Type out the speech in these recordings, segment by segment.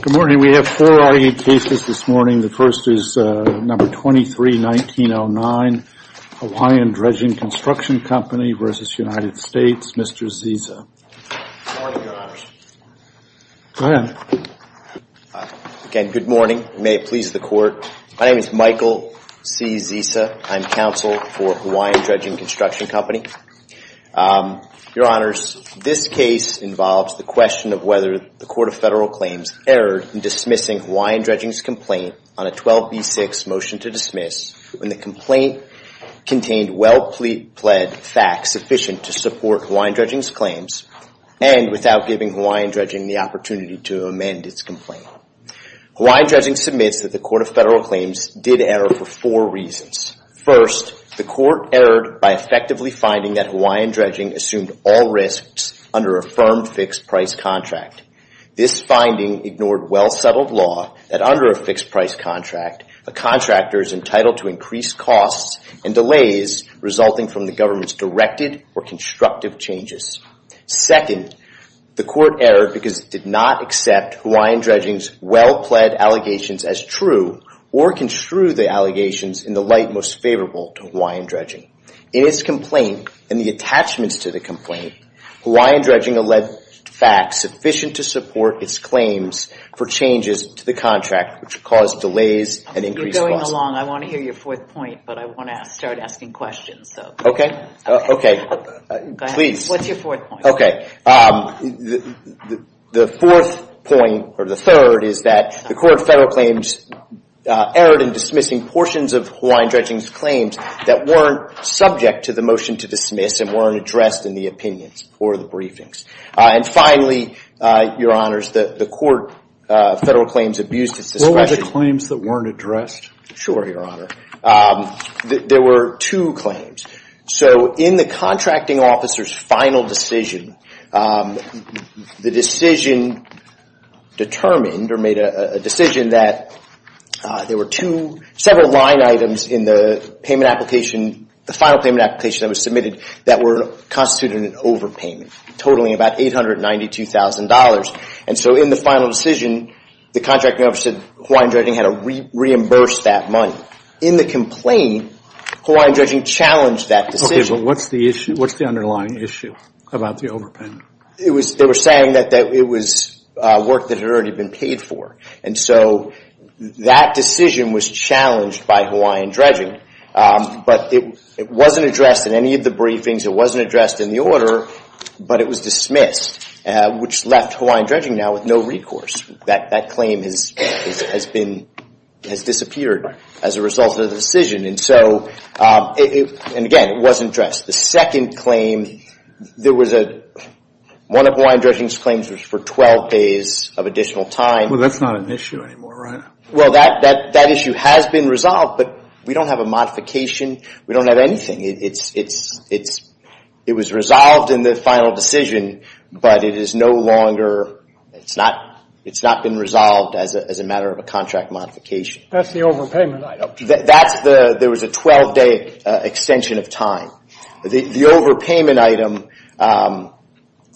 Good morning. We have four R.E. cases this morning. The first is No. 23-1909, Hawaiian Dredging Construction Company v. United States. Mr. Zisa. Good morning, Your Honors. Go ahead. Again, good morning. May it please the Court. My name is Michael C. Zisa. I'm counsel for Hawaiian Dredging Construction Company. Your Honors, this case involves the question of whether the Court of Federal Claims erred in dismissing Hawaiian Dredging's complaint on a 12b6 motion to dismiss when the complaint contained well-pled facts sufficient to support Hawaiian Dredging's claims and without giving Hawaiian Dredging the opportunity to amend its complaint. Hawaiian Dredging submits that the Court of Federal Claims did error for four reasons. First, the Court erred by effectively finding that Hawaiian Dredging assumed all risks under a firm fixed-price contract. This finding ignored well-settled law that under a fixed-price contract, a contractor is entitled to increase costs and delays resulting from the government's directed or constructive changes. Second, the Court erred because it did not accept Hawaiian Dredging's well-pled allegations as true or construe the allegations in the light most favorable to Hawaiian Dredging. In its complaint and the attachments to the complaint, Hawaiian Dredging alleged facts sufficient to support its claims for changes to the contract which caused delays and increased costs. You're going along. I want to hear your fourth point, but I want to start asking questions. Okay. Okay. Please. What's your fourth point? Okay. The fourth point or the third is that the Court of Federal Claims erred in dismissing portions of Hawaiian Dredging's claims that weren't subject to the motion to dismiss and weren't addressed in the opinions or the briefings. And finally, Your Honors, the Court of Federal Claims abused its discretion. What were the claims that weren't addressed? Sure, Your Honor. There were two claims. So in the contracting officer's final decision, the decision determined or made a decision that there were two, several line items in the payment application, the final payment application that was submitted that were constituted an overpayment, totaling about $892,000. And so in the final decision, the contracting officer said Hawaiian Dredging had to reimburse that money. In the complaint, Hawaiian Dredging challenged that decision. Okay, but what's the underlying issue about the overpayment? They were saying that it was work that had already been paid for. And so that decision was challenged by Hawaiian Dredging, but it wasn't addressed in any of the briefings. It wasn't addressed in the order, but it was dismissed, which left Hawaiian Dredging now with no recourse. That claim has disappeared as a result of the decision. And again, it wasn't addressed. The second claim, one of Hawaiian Dredging's claims was for 12 days of additional time. Well, that's not an issue anymore, right? Well, that issue has been resolved, but we don't have a modification. We don't have anything. It was resolved in the final decision, but it is no longer, it's not been resolved as a matter of a contract modification. That's the overpayment item. That's the, there was a 12-day extension of time. The overpayment item,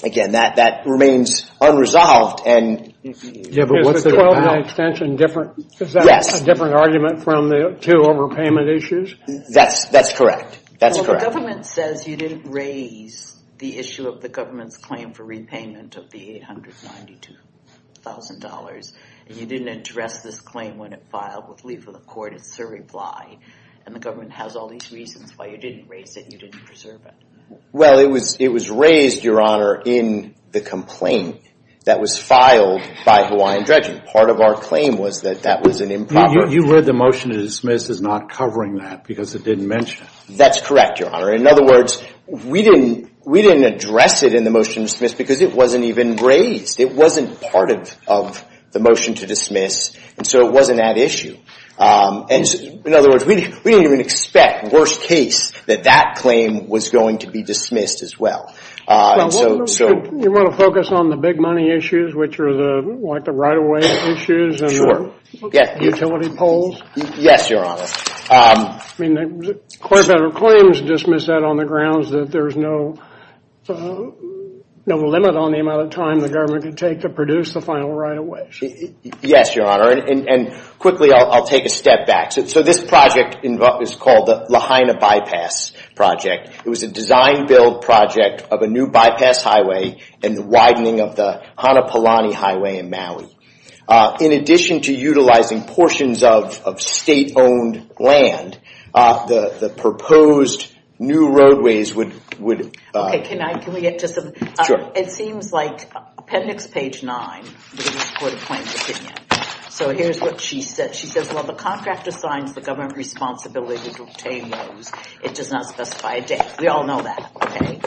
again, that remains unresolved. Is the 12-day extension different? Yes. Is that a different argument from the two overpayment issues? That's correct. That's correct. Well, the government says you didn't raise the issue of the government's claim for repayment of the $892,000. You didn't address this claim when it filed with Lee for the court. It's a reply. And the government has all these reasons why you didn't raise it and you didn't preserve it. Well, it was raised, Your Honor, in the complaint that was filed by Hawaiian Dredging. Part of our claim was that that was an improper. You read the motion to dismiss as not covering that because it didn't mention it. That's correct, Your Honor. In other words, we didn't address it in the motion to dismiss because it wasn't even raised. It wasn't part of the motion to dismiss, and so it wasn't that issue. In other words, we didn't even expect, worst case, that that claim was going to be dismissed as well. Well, you want to focus on the big money issues, which are like the right-of-way issues and utility polls? Yes, Your Honor. I mean, the court better claims to dismiss that on the grounds that there's no limit on the amount of time the government can take to produce the final right-of-way. Yes, Your Honor. And quickly, I'll take a step back. So this project is called the Lahaina Bypass Project. It was a design-build project of a new bypass highway and the widening of the Hanapulani Highway in Maui. In addition to utilizing portions of state-owned land, the proposed new roadways would... Okay, can we get to something? Sure. It seems like Appendix Page 9, which is the Court of Claims Opinion, so here's what she said. She says, well, the contract assigns the government responsibility to obtain those. It does not specify a date. We all know that, okay?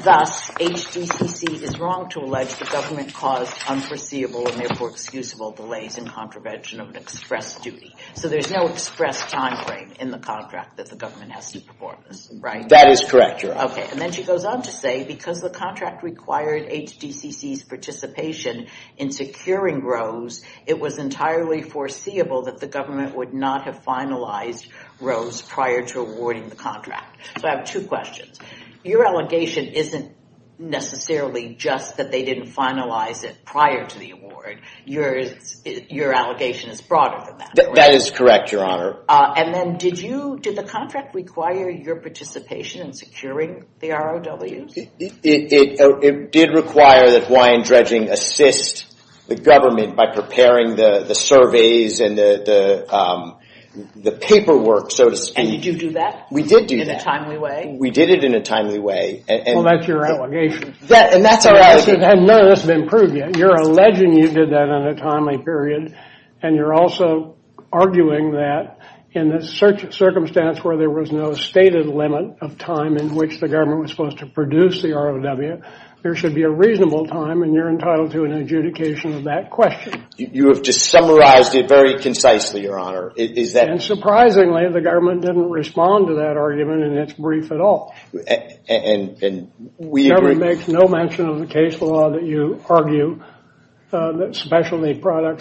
Thus, HDCC is wrong to allege the government caused unforeseeable and therefore excusable delays in contravention of an express duty. So there's no express time frame in the contract that the government has to perform this, right? That is correct, Your Honor. Okay, and then she goes on to say, because the contract required HDCC's participation in securing ROSE, it was entirely foreseeable that the government would not have finalized ROSE prior to awarding the contract. So I have two questions. Your allegation isn't necessarily just that they didn't finalize it prior to the award. Your allegation is broader than that, right? That is correct, Your Honor. And then did you, did the contract require your participation in securing the ROWs? It did require that Hawaiian Dredging assist the government by preparing the surveys and the paperwork, so to speak. And did you do that? We did do that. In a timely way? We did it in a timely way. Well, that's your allegation. And that's our allegation. And none of this has been proved yet. You're alleging you did that in a timely period, and you're also arguing that in the circumstance where there was no stated limit of time in which the government was supposed to produce the ROW, there should be a reasonable time, and you're entitled to an adjudication of that question. You have just summarized it very concisely, Your Honor. Is that... And surprisingly, the government didn't respond to that argument in its brief at all. And we agree... ...that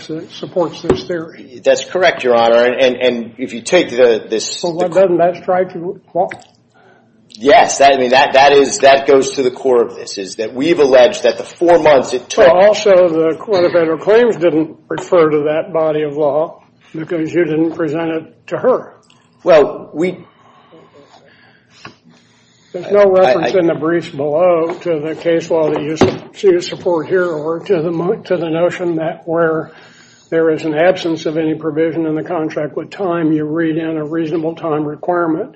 it supports this theory. That's correct, Your Honor. And if you take this... Well, doesn't that strike you? Yes. I mean, that goes to the core of this, is that we've alleged that the four months it took... Well, also, the Court of Federal Claims didn't refer to that body of law because you didn't present it to her. Well, we... There's no reference in the briefs below to the case law that you support here or to the notion that where there is an absence of any provision in the contract with time, you read in a reasonable time requirement,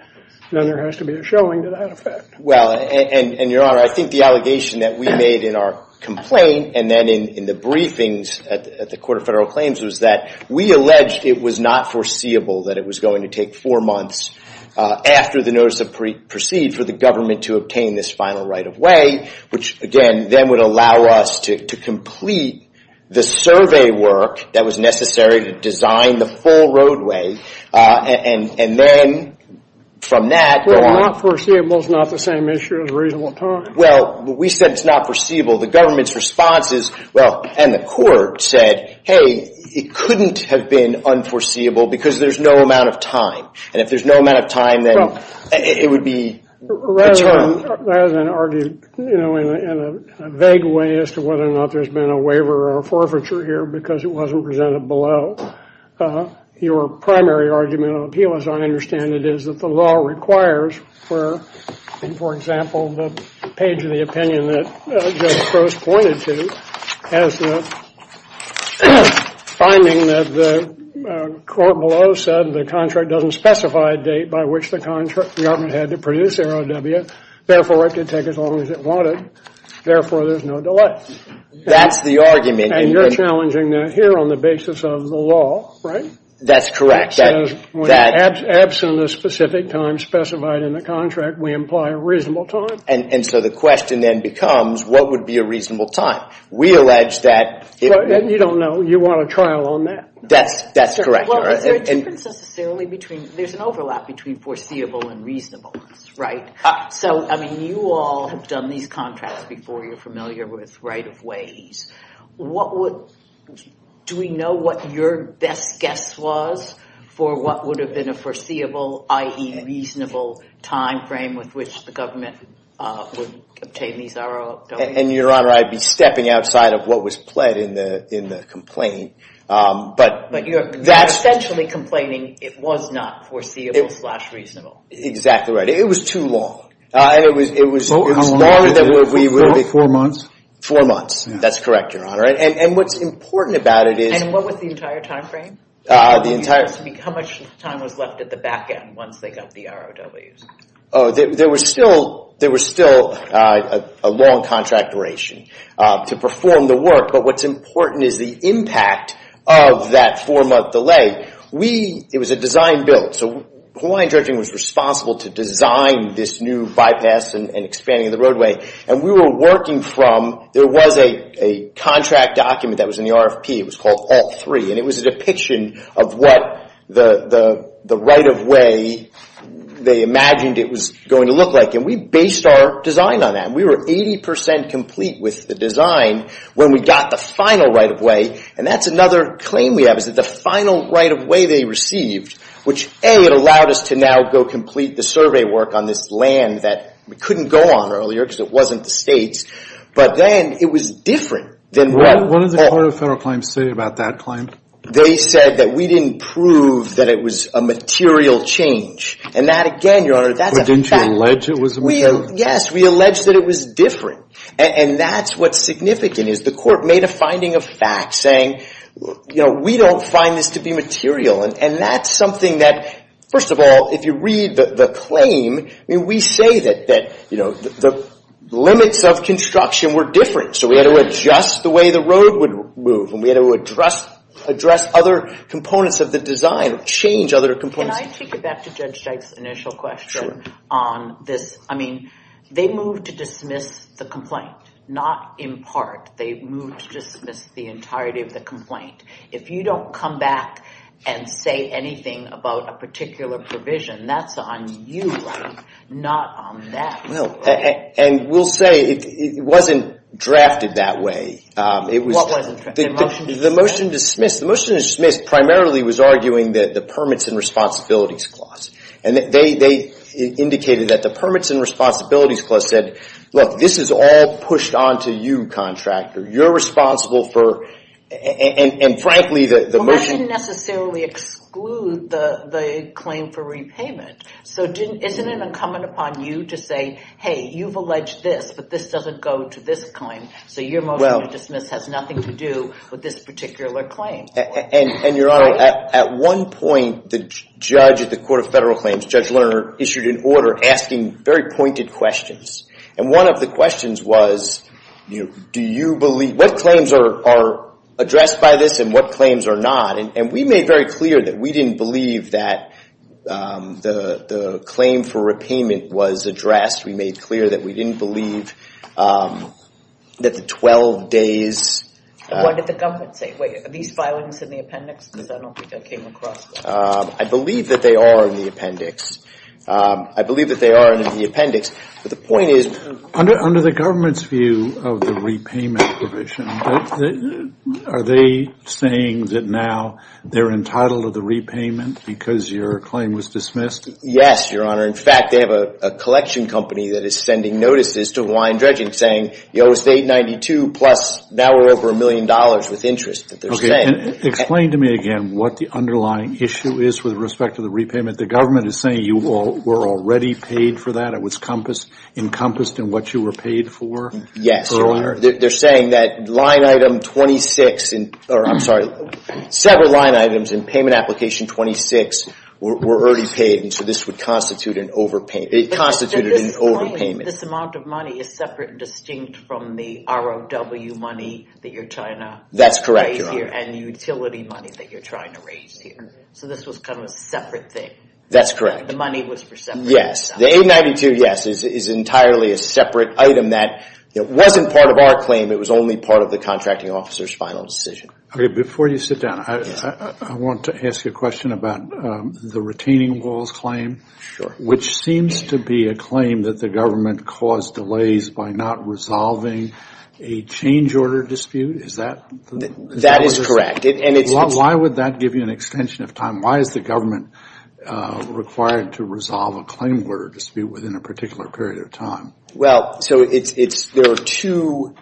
then there has to be a showing to that effect. Well, and Your Honor, I think the allegation that we made in our complaint and then in the briefings at the Court of Federal Claims was that we alleged it was not foreseeable that it was going to take four months after the notice of proceed for the government to obtain this final right-of-way, which, again, then would allow us to complete the survey work that was necessary to design the full roadway. And then from that... Well, not foreseeable is not the same issue as reasonable time. Well, we said it's not foreseeable. The government's response is, well, and the court said, hey, it couldn't have been unforeseeable because there's no amount of time. And if there's no amount of time, then it would be... Rather than argue, you know, in a vague way as to whether or not there's been a waiver or a forfeiture here because it wasn't presented below, your primary argument of appeal, as I understand it, is that the law requires where, for example, the page of the opinion that Judge Coase pointed to has the finding that the court below said the contract doesn't specify a date by which the government had to produce AROW. Therefore, it could take as long as it wanted. Therefore, there's no delay. That's the argument. And you're challenging that here on the basis of the law, right? That's correct. Absent a specific time specified in the contract, we imply a reasonable time. And so the question then becomes, what would be a reasonable time? We allege that... You don't know. You want a trial on that. That's correct. Well, is there a difference necessarily between... There's an overlap between foreseeable and reasonableness, right? So, I mean, you all have done these contracts before. You're familiar with right-of-ways. What would... Do we know what your best guess was for what would have been a foreseeable, i.e. reasonable, time frame with which the government would obtain these AROW? And, Your Honor, I'd be stepping outside of what was pled in the complaint. But you're essentially complaining it was not foreseeable-slash-reasonable. Exactly right. It was too long. And it was... Four months. Four months. That's correct, Your Honor. And what's important about it is... And what was the entire time frame? How much time was left at the back end once they got the AROWs? There was still a long contract duration to perform the work. But what's important is the impact of that four-month delay. We... It was a design bill. So Hawaiian Judging was responsible to design this new bypass and expanding the roadway. And we were working from... There was a contract document that was in the RFP. It was called Alt III. And it was a depiction of what the right-of-way they imagined it was going to look like. And we based our design on that. We were 80 percent complete with the design when we got the final right-of-way. And that's another claim we have, is that the final right-of-way they received, which, A, it allowed us to now go complete the survey work on this land that we couldn't go on earlier because it wasn't the states. But then it was different than what... They said that we didn't prove that it was a material change. And that, again, Your Honor, that's... But didn't you allege it was a material change? Yes. We alleged that it was different. And that's what's significant, is the court made a finding of fact saying, you know, we don't find this to be material. And that's something that, first of all, if you read the claim, I mean, we say that, you know, the limits of construction were different. So we had to adjust the way the road would move. And we had to address other components of the design, change other components. Can I take it back to Judge Jike's initial question on this? I mean, they moved to dismiss the complaint, not impart. They moved to dismiss the entirety of the complaint. If you don't come back and say anything about a particular provision, that's on you, Ron, not on them. And we'll say it wasn't drafted that way. What wasn't drafted? The motion to dismiss. The motion to dismiss primarily was arguing the Permits and Responsibilities Clause. And they indicated that the Permits and Responsibilities Clause said, look, this is all pushed onto you, contractor. You're responsible for, and frankly, the motion... Well, that didn't necessarily exclude the claim for repayment. So isn't it incumbent upon you to say, hey, you've alleged this, but this doesn't go to this claim. So your motion to dismiss has nothing to do with this particular claim. And, Your Honor, at one point, the judge at the Court of Federal Claims, Judge Lerner, issued an order asking very pointed questions. And one of the questions was, do you believe, what claims are addressed by this and what claims are not? And we made very clear that we didn't believe that the claim for repayment was addressed. We made clear that we didn't believe that the 12 days... What did the government say? Wait, are these filings in the appendix? Because I don't think I came across that. I believe that they are in the appendix. I believe that they are in the appendix. But the point is... Under the government's view of the repayment provision, are they saying that now they're entitled to the repayment because your claim was dismissed? Yes, Your Honor. In fact, they have a collection company that is sending notices to Hawaiian Dredging saying, you know, it was $892 plus, now we're over $1 million with interest that they're saying. Explain to me again what the underlying issue is with respect to the repayment. The government is saying you were already paid for that. It was encompassed in what you were paid for. Yes, Your Honor. They're saying that line item 26, or I'm sorry, several line items in payment application 26 were already paid, and so this would constitute an overpayment. It constituted an overpayment. This amount of money is separate and distinct from the ROW money that you're trying to raise here. That's correct, Your Honor. And the utility money that you're trying to raise here. So this was kind of a separate thing. That's correct. The money was for separate things. Yes. The $892, yes, is entirely a separate item that wasn't part of our claim. It was only part of the contracting officer's final decision. Okay. Before you sit down, I want to ask you a question about the retaining walls claim. Sure. Which seems to be a claim that the government caused delays by not resolving a change order dispute. Is that? That is correct. Why would that give you an extension of time? Why is the government required to resolve a claim order dispute within a particular period of time? Well, so there are two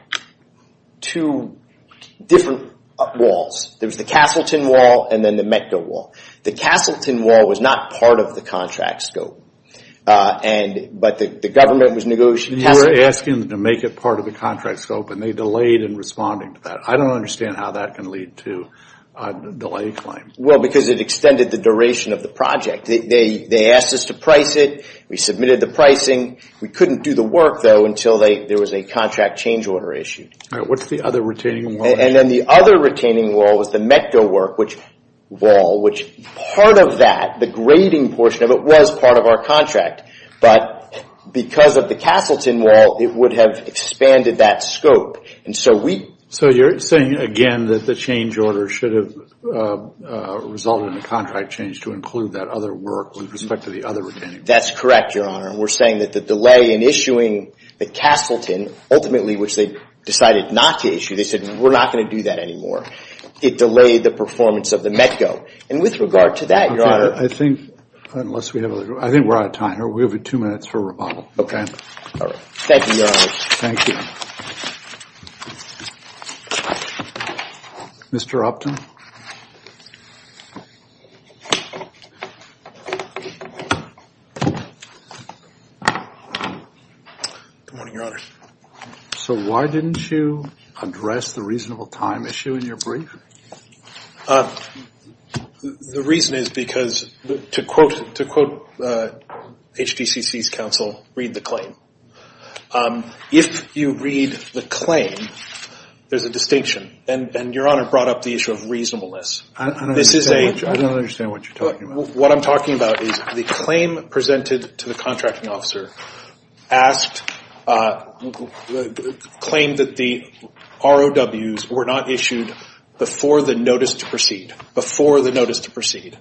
different walls. There's the Castleton wall and then the MECDA wall. The Castleton wall was not part of the contract scope, but the government was negotiating. You're asking them to make it part of the contract scope, and they delayed in responding to that. I don't understand how that can lead to a delay claim. Well, because it extended the duration of the project. They asked us to price it. We submitted the pricing. We couldn't do the work, though, until there was a contract change order issue. All right. What's the other retaining wall? Then the other retaining wall was the MECDA wall, which part of that, the grading portion of it, was part of our contract. But because of the Castleton wall, it would have expanded that scope. So you're saying, again, that the change order should have resulted in a contract change to include that other work with respect to the other retaining wall. That's correct, Your Honor. We're saying that the delay in issuing the Castleton, ultimately, which they decided not to issue, they said, we're not going to do that anymore. It delayed the performance of the MECDA. And with regard to that, Your Honor. I think we're out of time. We have two minutes for rebuttal. Thank you, Your Honor. Thank you. Mr. Upton. Good morning, Your Honor. So why didn't you address the reasonable time issue in your brief? The reason is because, to quote HBCC's counsel, read the claim. If you read the claim, there's a distinction. And Your Honor brought up the issue of reasonableness. I don't understand what you're talking about. What I'm talking about is the claim presented to the contracting officer, claimed that the ROWs were not issued before the notice to proceed. Before the notice to proceed.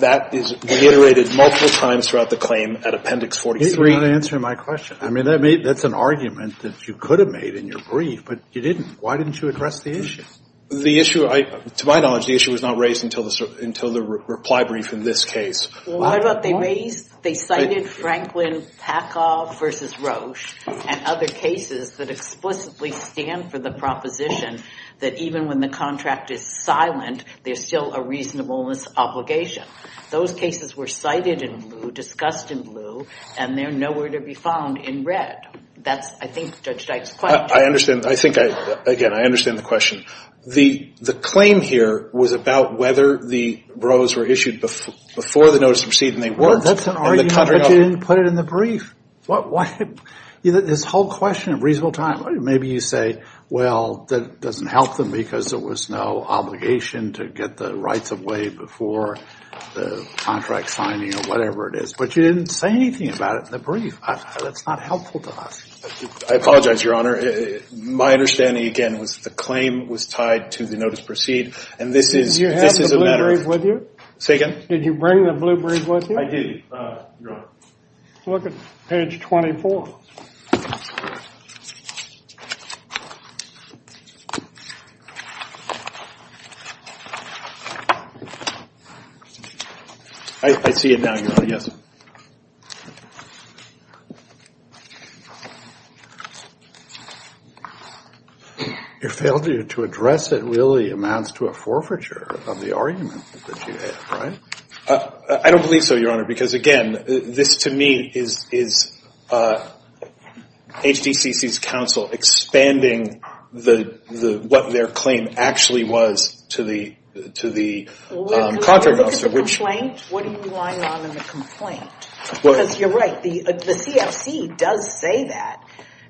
That is reiterated multiple times throughout the claim at Appendix 43. That's not answering my question. I mean, that's an argument that you could have made in your brief, but you didn't. Why didn't you address the issue? The issue, to my knowledge, the issue was not raised until the reply brief in this case. Well, what about they raised, they cited Franklin Packoff versus Roche and other cases that explicitly stand for the proposition that even when the contract is silent, there's still a reasonableness obligation. Those cases were cited in blue, discussed in blue, and they're nowhere to be found in red. That's, I think, Judge Dyke's question. I understand. I think, again, I understand the question. The claim here was about whether the ROWs were issued before the notice to proceed and they weren't. Well, that's an argument that you didn't put it in the brief. This whole question of reasonable time. Maybe you say, well, that doesn't help them because there was no obligation to get the rights of way before the contract signing or whatever it is. But you didn't say anything about it in the brief. That's not helpful to us. I apologize, Your Honor. My understanding, again, was that the claim was tied to the notice to proceed, and this is a matter of – Did you have the blue brief with you? Say again? Did you bring the blue brief with you? I did, Your Honor. Look at page 24. I see it now, Your Honor. Yes. Your failure to address it really amounts to a forfeiture of the argument that you have, right? I don't believe so, Your Honor, because, again, this to me is HDCC's counsel expanding what their claim actually was to the contract officer. Look at the complaint. What are you relying on in the complaint? Because you're right, the CFC does say that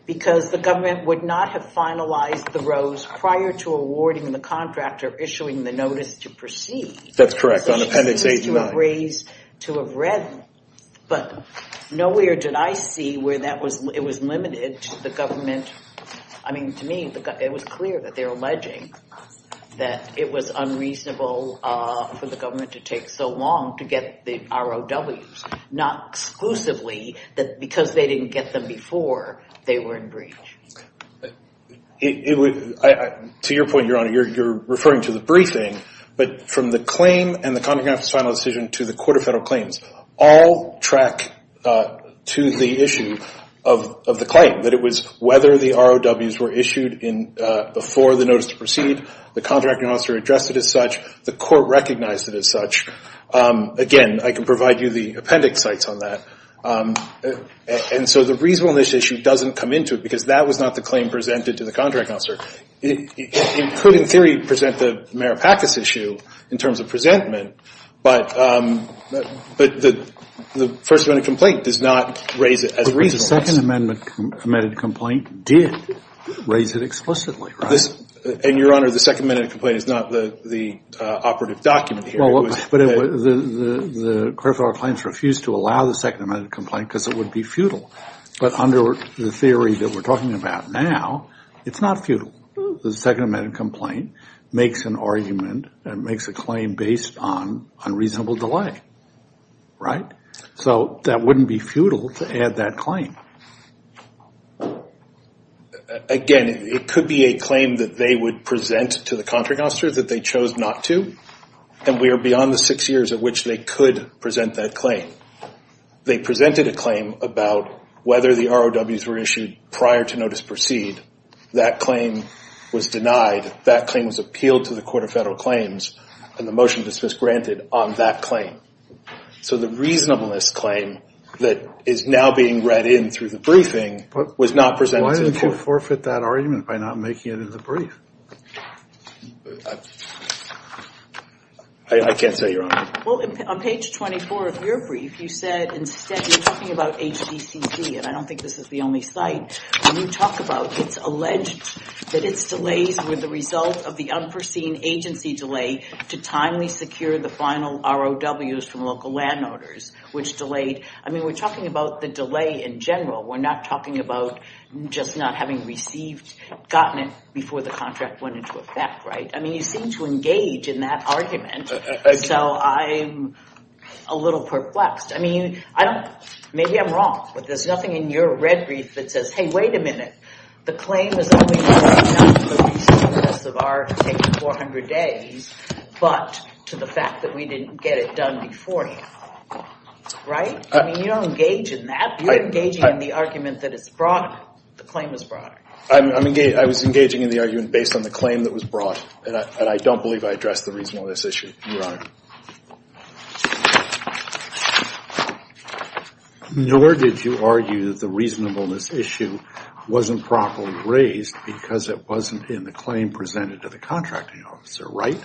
because the government would not have finalized the ROWs prior to awarding the contract or issuing the notice to proceed. That's correct. On Appendix A to I. To have read, but nowhere did I see where that was – it was limited to the government. I mean, to me, it was clear that they were alleging that it was unreasonable for the government to take so long to get the ROWs, not exclusively because they didn't get them before they were in breach. To your point, Your Honor, you're referring to the briefing. But from the claim and the contract officer's final decision to the Court of Federal Claims, all track to the issue of the claim, that it was whether the ROWs were issued before the notice to proceed, the contracting officer addressed it as such, the court recognized it as such. Again, I can provide you the appendix sites on that. And so the reasonableness issue doesn't come into it because that was not the claim presented to the contracting officer. It could, in theory, present the Meripakis issue in terms of presentment, but the First Amendment complaint does not raise it as a reasonableness. The Second Amendment complaint did raise it explicitly, right? And, Your Honor, the Second Amendment complaint is not the operative document here. The Court of Federal Claims refused to allow the Second Amendment complaint because it would be futile. But under the theory that we're talking about now, it's not futile. The Second Amendment complaint makes an argument and makes a claim based on unreasonable delay, right? So that wouldn't be futile to add that claim. Again, it could be a claim that they would present to the contracting officer that they chose not to. And we are beyond the six years at which they could present that claim. They presented a claim about whether the ROWs were issued prior to notice proceed. That claim was denied. That claim was appealed to the Court of Federal Claims, and the motion dismissed granted on that claim. So the reasonableness claim that is now being read in through the briefing was not presented to the court. They will forfeit that argument by not making it in the brief. I can't say, Your Honor. Well, on page 24 of your brief, you said instead you're talking about HBCC, and I don't think this is the only site you talk about. It's alleged that its delays were the result of the unforeseen agency delay to timely secure the final ROWs from local landowners, which delayed. I mean, we're talking about the delay in general. We're not talking about just not having received – gotten it before the contract went into effect, right? I mean, you seem to engage in that argument, so I'm a little perplexed. I mean, I don't – maybe I'm wrong, but there's nothing in your red brief that says, hey, wait a minute. The claim is only related not to the reasonableness of our taking 400 days, but to the fact that we didn't get it done beforehand, right? I mean, you don't engage in that. You're engaging in the argument that it's brought – the claim was brought. I'm – I was engaging in the argument based on the claim that was brought, and I don't believe I addressed the reasonableness issue, Your Honor. Nor did you argue that the reasonableness issue wasn't properly raised because it wasn't in the claim presented to the contracting officer, right?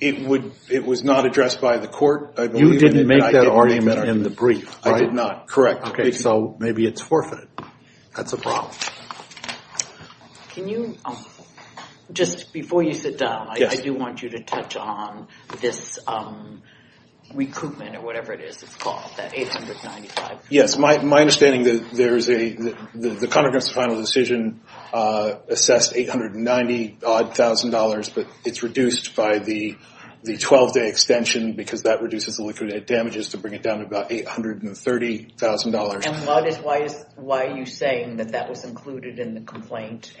It would – it was not addressed by the court, I believe. You didn't make that argument in the brief, right? I did not, correct. Okay. So maybe it's forfeited. That's a problem. Can you – just before you sit down, I do want you to touch on this recoupment or whatever it is it's called, that 895. Yes. My understanding is that there is a – the contracting officer's final decision assessed 890-odd thousand dollars, but it's reduced by the 12-day extension because that reduces the liquidate damages to bring it down to about $830,000. And why are you saying that that was included in the complaint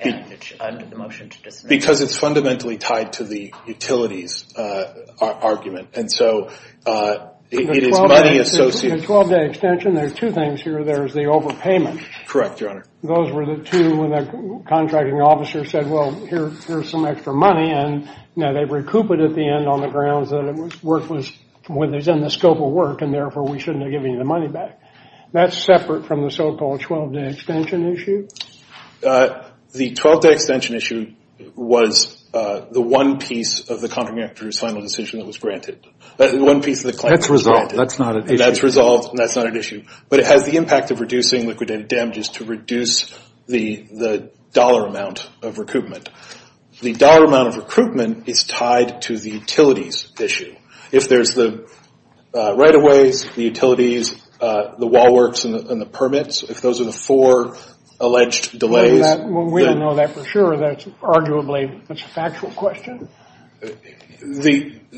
under the motion to dismiss? Because it's fundamentally tied to the utilities argument, and so it is money associated – The 12-day extension, there are two things here. There is the overpayment. Correct, Your Honor. Those were the two when the contracting officer said, well, here's some extra money, and now they recoup it at the end on the grounds that it was – work was – it was in the scope of work, and therefore we shouldn't have given you the money back. That's separate from the so-called 12-day extension issue? The 12-day extension issue was the one piece of the contracting officer's final decision that was granted. One piece of the claim that was granted. That's resolved. That's not an issue. That's resolved, and that's not an issue. But it has the impact of reducing liquidate damages to reduce the dollar amount of recoupment. The dollar amount of recoupment is tied to the utilities issue. If there's the right-of-ways, the utilities, the wall works, and the permits, if those are the four alleged delays – We don't know that for sure. That's arguably – that's a factual question. The –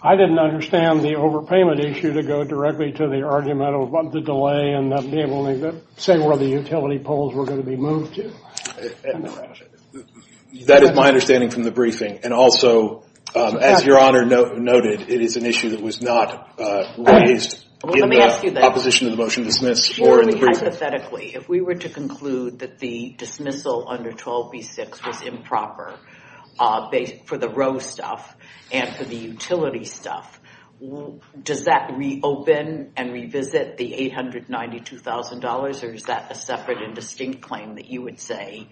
I didn't understand the overpayment issue to go directly to the argument about the delay and not be able to say where the utility poles were going to be moved to. That is my understanding from the briefing. And also, as Your Honor noted, it is an issue that was not raised in the opposition to the motion to dismiss or in the briefing. So hypothetically, if we were to conclude that the dismissal under 12B-6 was improper for the row stuff and for the utility stuff, does that reopen and revisit the $892,000, or is that a separate and distinct claim that you would say,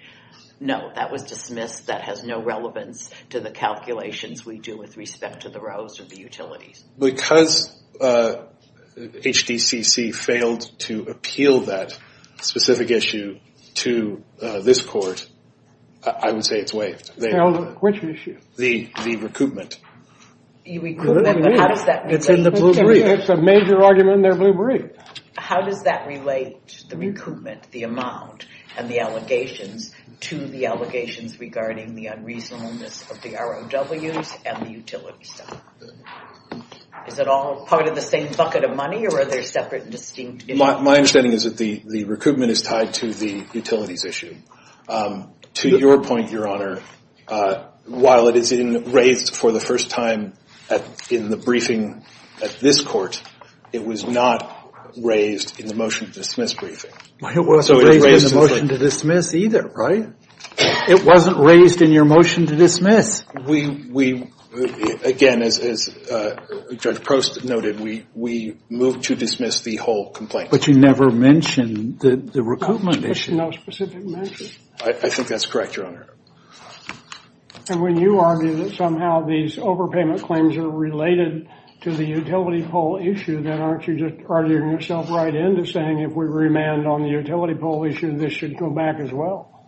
no, that was dismissed, that has no relevance to the calculations we do with respect to the rows or the utilities? Because HDCC failed to appeal that specific issue to this court, I would say it's waived. Which issue? The recoupment. The recoupment, but how does that relate to – It's in the blue brief. It's a major argument in their blue brief. How does that relate, the recoupment, the amount, and the allegations, to the allegations regarding the unreasonableness of the ROWs and the utility stuff? Is it all part of the same bucket of money, or are there separate and distinct issues? My understanding is that the recoupment is tied to the utilities issue. To your point, Your Honor, while it is raised for the first time in the briefing at this court, it was not raised in the motion to dismiss briefing. It wasn't raised in the motion to dismiss either, right? It wasn't raised in your motion to dismiss. We, again, as Judge Prost noted, we moved to dismiss the whole complaint. But you never mentioned the recoupment issue. No specific mention. I think that's correct, Your Honor. And when you argue that somehow these overpayment claims are related to the utility poll issue, then aren't you just arguing yourself right into saying if we remand on the utility poll issue, this should go back as well?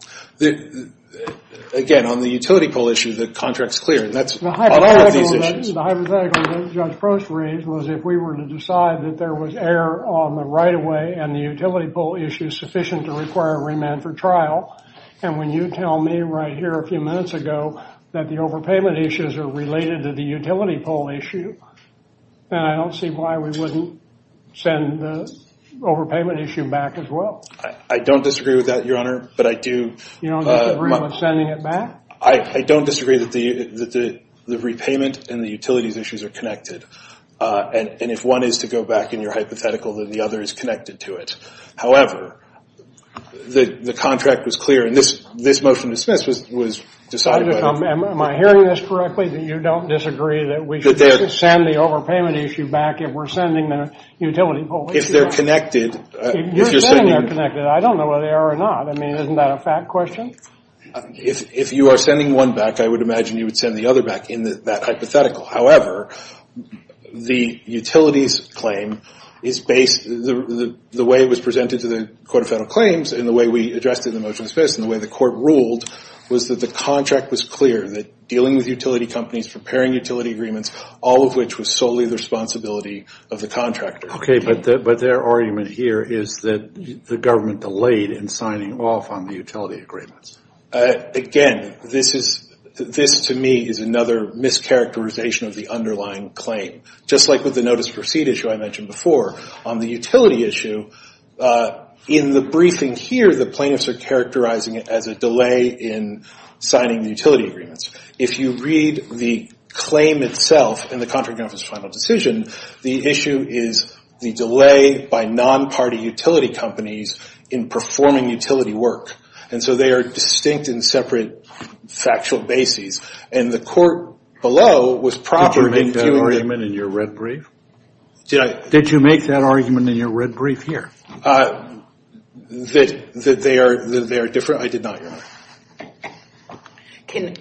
Again, on the utility poll issue, the contract's clear. That's part of these issues. The hypothetical that Judge Prost raised was if we were to decide that there was error on the right-of-way and the utility poll issue sufficient to require remand for trial, and when you tell me right here a few minutes ago that the overpayment issues are related to the utility poll issue, then I don't see why we wouldn't send the overpayment issue back as well. I don't disagree with that, Your Honor, but I do. You don't disagree with sending it back? I don't disagree that the repayment and the utilities issues are connected. And if one is to go back in your hypothetical, then the other is connected to it. However, the contract was clear, and this motion to dismiss was decided by. Am I hearing this correctly, that you don't disagree that we should send the overpayment issue back if we're sending the utility poll issue back? If they're connected. You're saying they're connected. I don't know whether they are or not. I mean, isn't that a fact question? If you are sending one back, I would imagine you would send the other back in that hypothetical. However, the utilities claim is based. The way it was presented to the Court of Federal Claims and the way we addressed it in the motion to dismiss and the way the court ruled was that the contract was clear, that dealing with utility companies, preparing utility agreements, all of which was solely the responsibility of the contractor. Okay, but their argument here is that the government delayed in signing off on the utility agreements. Again, this to me is another mischaracterization of the underlying claim. Just like with the notice of receipt issue I mentioned before, on the utility issue, in the briefing here, the plaintiffs are characterizing it as a delay in signing the utility agreements. If you read the claim itself in the Contracting Officer's Final Decision, the issue is the delay by non-party utility companies in performing utility work. And so they are distinct and separate factual bases. And the court below was proper in viewing that. Did you make that argument in your red brief? Did you make that argument in your red brief here? That they are different? I did not, Your Honor.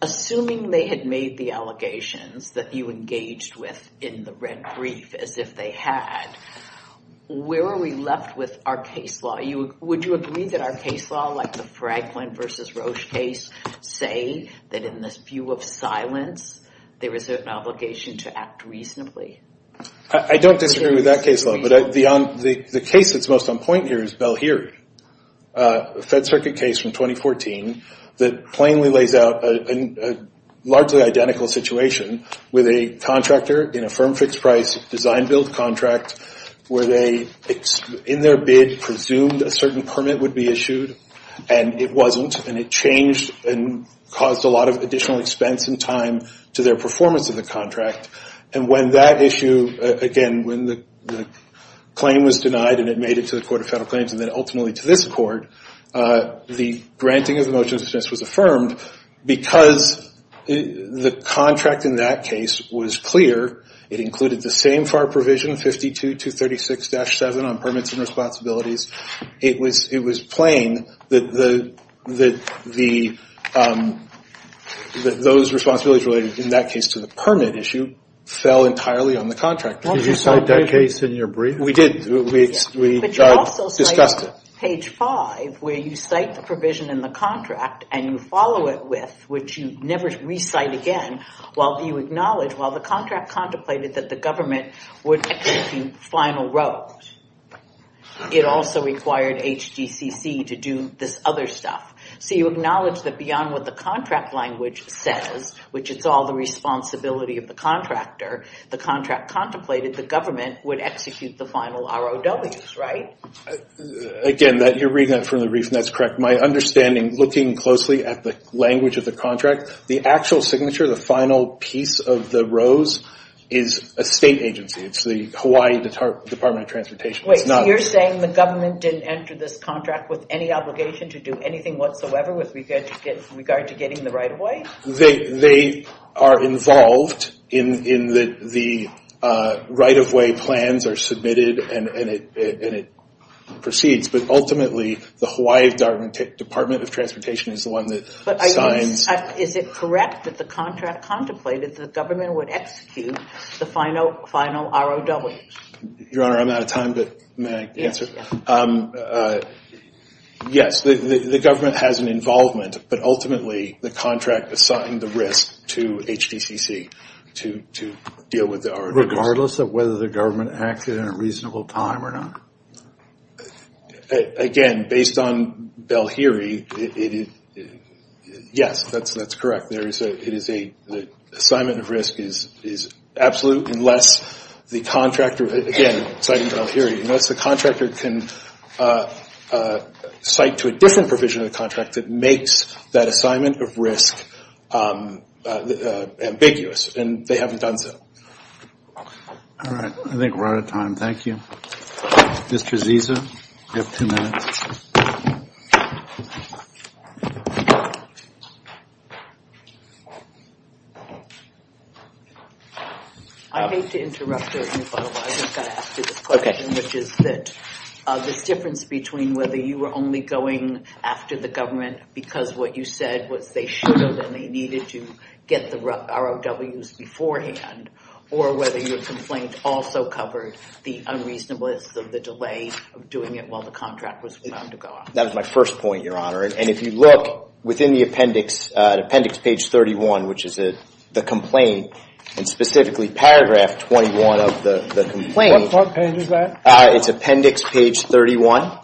Assuming they had made the allegations that you engaged with in the red brief as if they had, where are we left with our case law? Would you agree that our case law, like the Franklin v. Roche case, say that in this view of silence, there is an obligation to act reasonably? I don't disagree with that case law. But the case that's most on point here is Bell-Heary, a Fed Circuit case from 2014, that plainly lays out a largely identical situation with a contractor in a firm-fixed-price design-build contract where they, in their bid, presumed a certain permit would be issued, and it wasn't. And it changed and caused a lot of additional expense and time to their performance of the contract. And when that issue, again, when the claim was denied and it made it to the Court of Federal Claims and then ultimately to this court, the granting of the motion of suspense was affirmed because the contract in that case was clear. It included the same FAR provision, 52-236-7 on permits and responsibilities. It was plain that those responsibilities related in that case to the permit issue fell entirely on the contractor. Did you cite that case in your brief? We did. We discussed it. But you also cite page 5 where you cite the provision in the contract and you follow it with, which you never recite again, while you acknowledge, while the contract contemplated that the government would take the final road. It also required HDCC to do this other stuff. So you acknowledge that beyond what the contract language says, which is all the responsibility of the contractor, the contract contemplated the government would execute the final ROWs, right? Again, you're reading that from the brief, and that's correct. My understanding, looking closely at the language of the contract, the actual signature, the final piece of the rose, is a state agency. It's the Hawaii Department of Transportation. Wait, so you're saying the government didn't enter this contract with any obligation to do anything whatsoever with regard to getting the right-of-way? They are involved in the right-of-way plans are submitted and it proceeds. But ultimately, the Hawaii Department of Transportation is the one that signs. Is it correct that the contract contemplated that the government would execute the final ROW? Your Honor, I'm out of time, but may I answer? Yes, the government has an involvement, but ultimately the contract assigned the risk to HDCC to deal with the ROW. Regardless of whether the government acted in a reasonable time or not? Again, based on Belhiri, yes, that's correct. The assignment of risk is absolute unless the contractor, again, citing Belhiri, unless the contractor can cite to a different provision of the contract that makes that assignment of risk ambiguous, and they haven't done so. All right, I think we're out of time. Thank you. Mr. Zisa, you have two minutes. I hate to interrupt you, but I was going to ask you this question, which is that this difference between whether you were only going after the government because what you said was they should have and they needed to get the ROWs beforehand, or whether your complaint also covered the unreasonableness of the delay of doing it while the contract was about to go out. That was my first point, Your Honor, and if you look within the appendix, appendix page 31, which is the complaint, and specifically paragraph 21 of the complaint. What page is that? It's appendix page 31,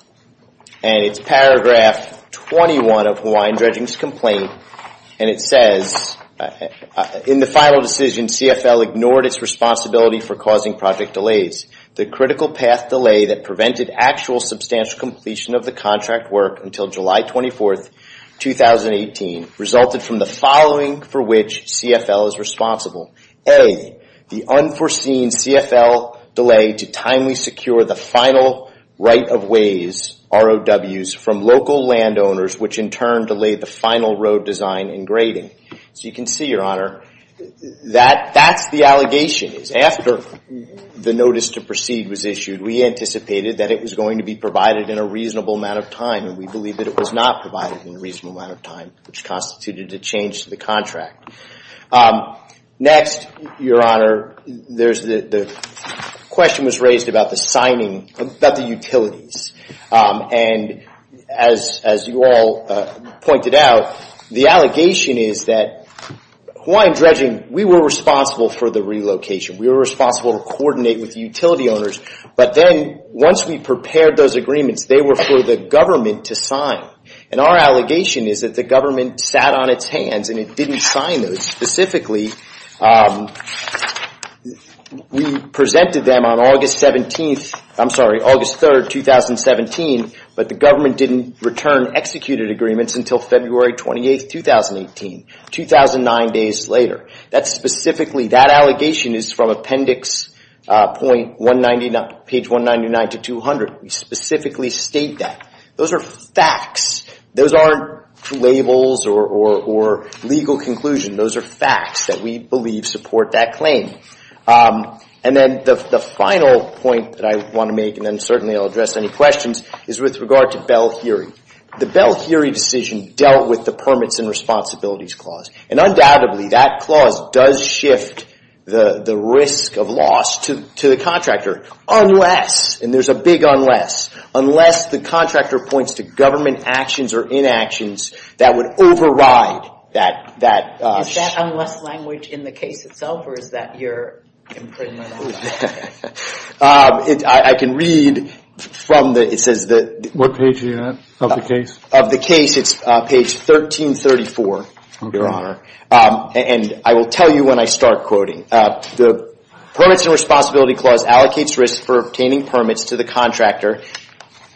and it's paragraph 21 of Hawaiian Dredging's complaint, and it says, in the final decision, CFL ignored its responsibility for causing project delays. The critical path delay that prevented actual substantial completion of the contract work until July 24, 2018, resulted from the following for which CFL is responsible. A, the unforeseen CFL delay to timely secure the final right of ways, ROWs, from local landowners, which in turn delayed the final road design and grading. So you can see, Your Honor, that that's the allegation. After the notice to proceed was issued, we anticipated that it was going to be provided in a reasonable amount of time, and we believe that it was not provided in a reasonable amount of time, which constituted a change to the contract. Next, Your Honor, the question was raised about the signing, about the utilities, and as you all pointed out, the allegation is that Hawaiian Dredging, we were responsible for the relocation. We were responsible to coordinate with the utility owners, but then once we prepared those agreements, they were for the government to sign, and our allegation is that the government sat on its hands and it didn't sign those specifically. We presented them on August 17th, I'm sorry, August 3rd, 2017, but the government didn't return executed agreements until February 28th, 2018, 2009 days later. That's specifically, that allegation is from Appendix .199, page 199 to 200. We specifically state that. Those are facts. Those aren't labels or legal conclusions. Those are facts that we believe support that claim. And then the final point that I want to make, and then certainly I'll address any questions, is with regard to Bell-Heary. The Bell-Heary decision dealt with the Permits and Responsibilities Clause, and undoubtedly that clause does shift the risk of loss to the contractor unless, and there's a big unless, unless the contractor points to government actions or inactions that would override that. Is that unless language in the case itself, or is that your imprisonment? I can read from the, it says the. What page are you on, of the case? Of the case, it's page 1334, Your Honor, and I will tell you when I start quoting. The Permits and Responsibility Clause allocates risk for obtaining permits to the contractor.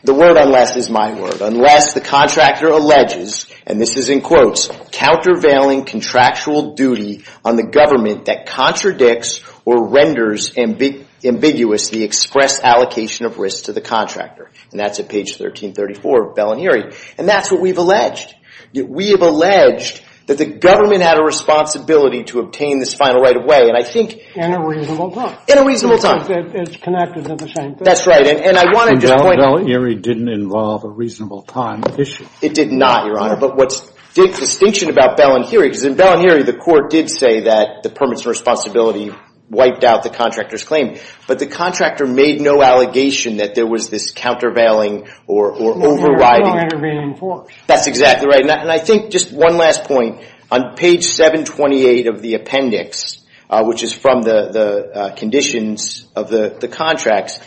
The word unless is my word. Unless the contractor alleges, and this is in quotes, countervailing contractual duty on the government that contradicts or renders ambiguous the express allocation of risk to the contractor. And that's at page 1334 of Bell and Heary. And that's what we've alleged. We have alleged that the government had a responsibility to obtain this final right of way, and I think. In a reasonable time. In a reasonable time. Because it's connected to the same thing. That's right, and I want to just point out. And Bell and Heary didn't involve a reasonable time issue. It did not, Your Honor, but what's the distinction about Bell and Heary, because in Bell and Heary the court did say that the Permits and Responsibility wiped out the contractor's claim, but the contractor made no allegation that there was this countervailing or overriding. Intervening force. That's exactly right. And I think just one last point. On page 728 of the appendix, which is from the conditions of the contracts,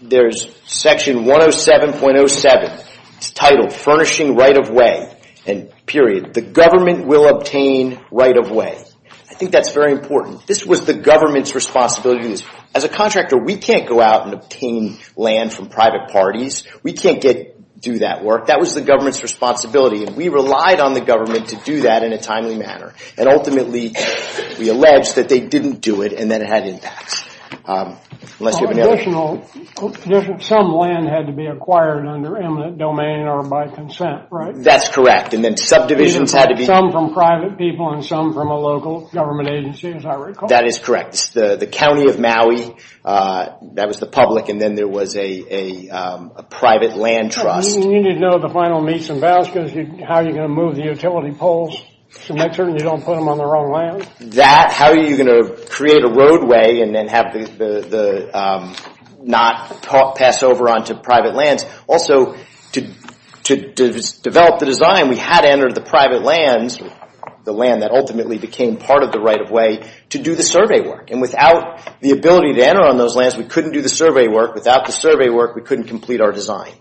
there's section 107.07. It's titled Furnishing Right of Way. And period. The government will obtain right of way. I think that's very important. This was the government's responsibility. As a contractor, we can't go out and obtain land from private parties. We can't do that work. That was the government's responsibility, and we relied on the government to do that in a timely manner. And ultimately, we alleged that they didn't do it and that it had impacts. Some land had to be acquired under eminent domain or by consent, right? That's correct. And then subdivisions had to be. Some from private people and some from a local government agency, as I recall. That is correct. It's the county of Maui. That was the public, and then there was a private land trust. You need to know the final meets and vows. How are you going to move the utility poles to make sure that you don't put them on the wrong land? That, how are you going to create a roadway and then have the knot pass over onto private lands? Also, to develop the design, we had to enter the private lands, the land that ultimately became part of the right-of-way, to do the survey work. And without the ability to enter on those lands, we couldn't do the survey work. Without the survey work, we couldn't complete our design.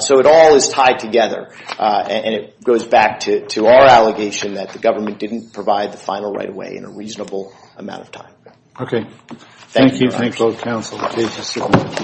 So it all is tied together, and it goes back to our allegation that the government didn't provide the final right-of-way in a reasonable amount of time. Okay. Thank you. Thank you. Thank you. Okay. Thank you.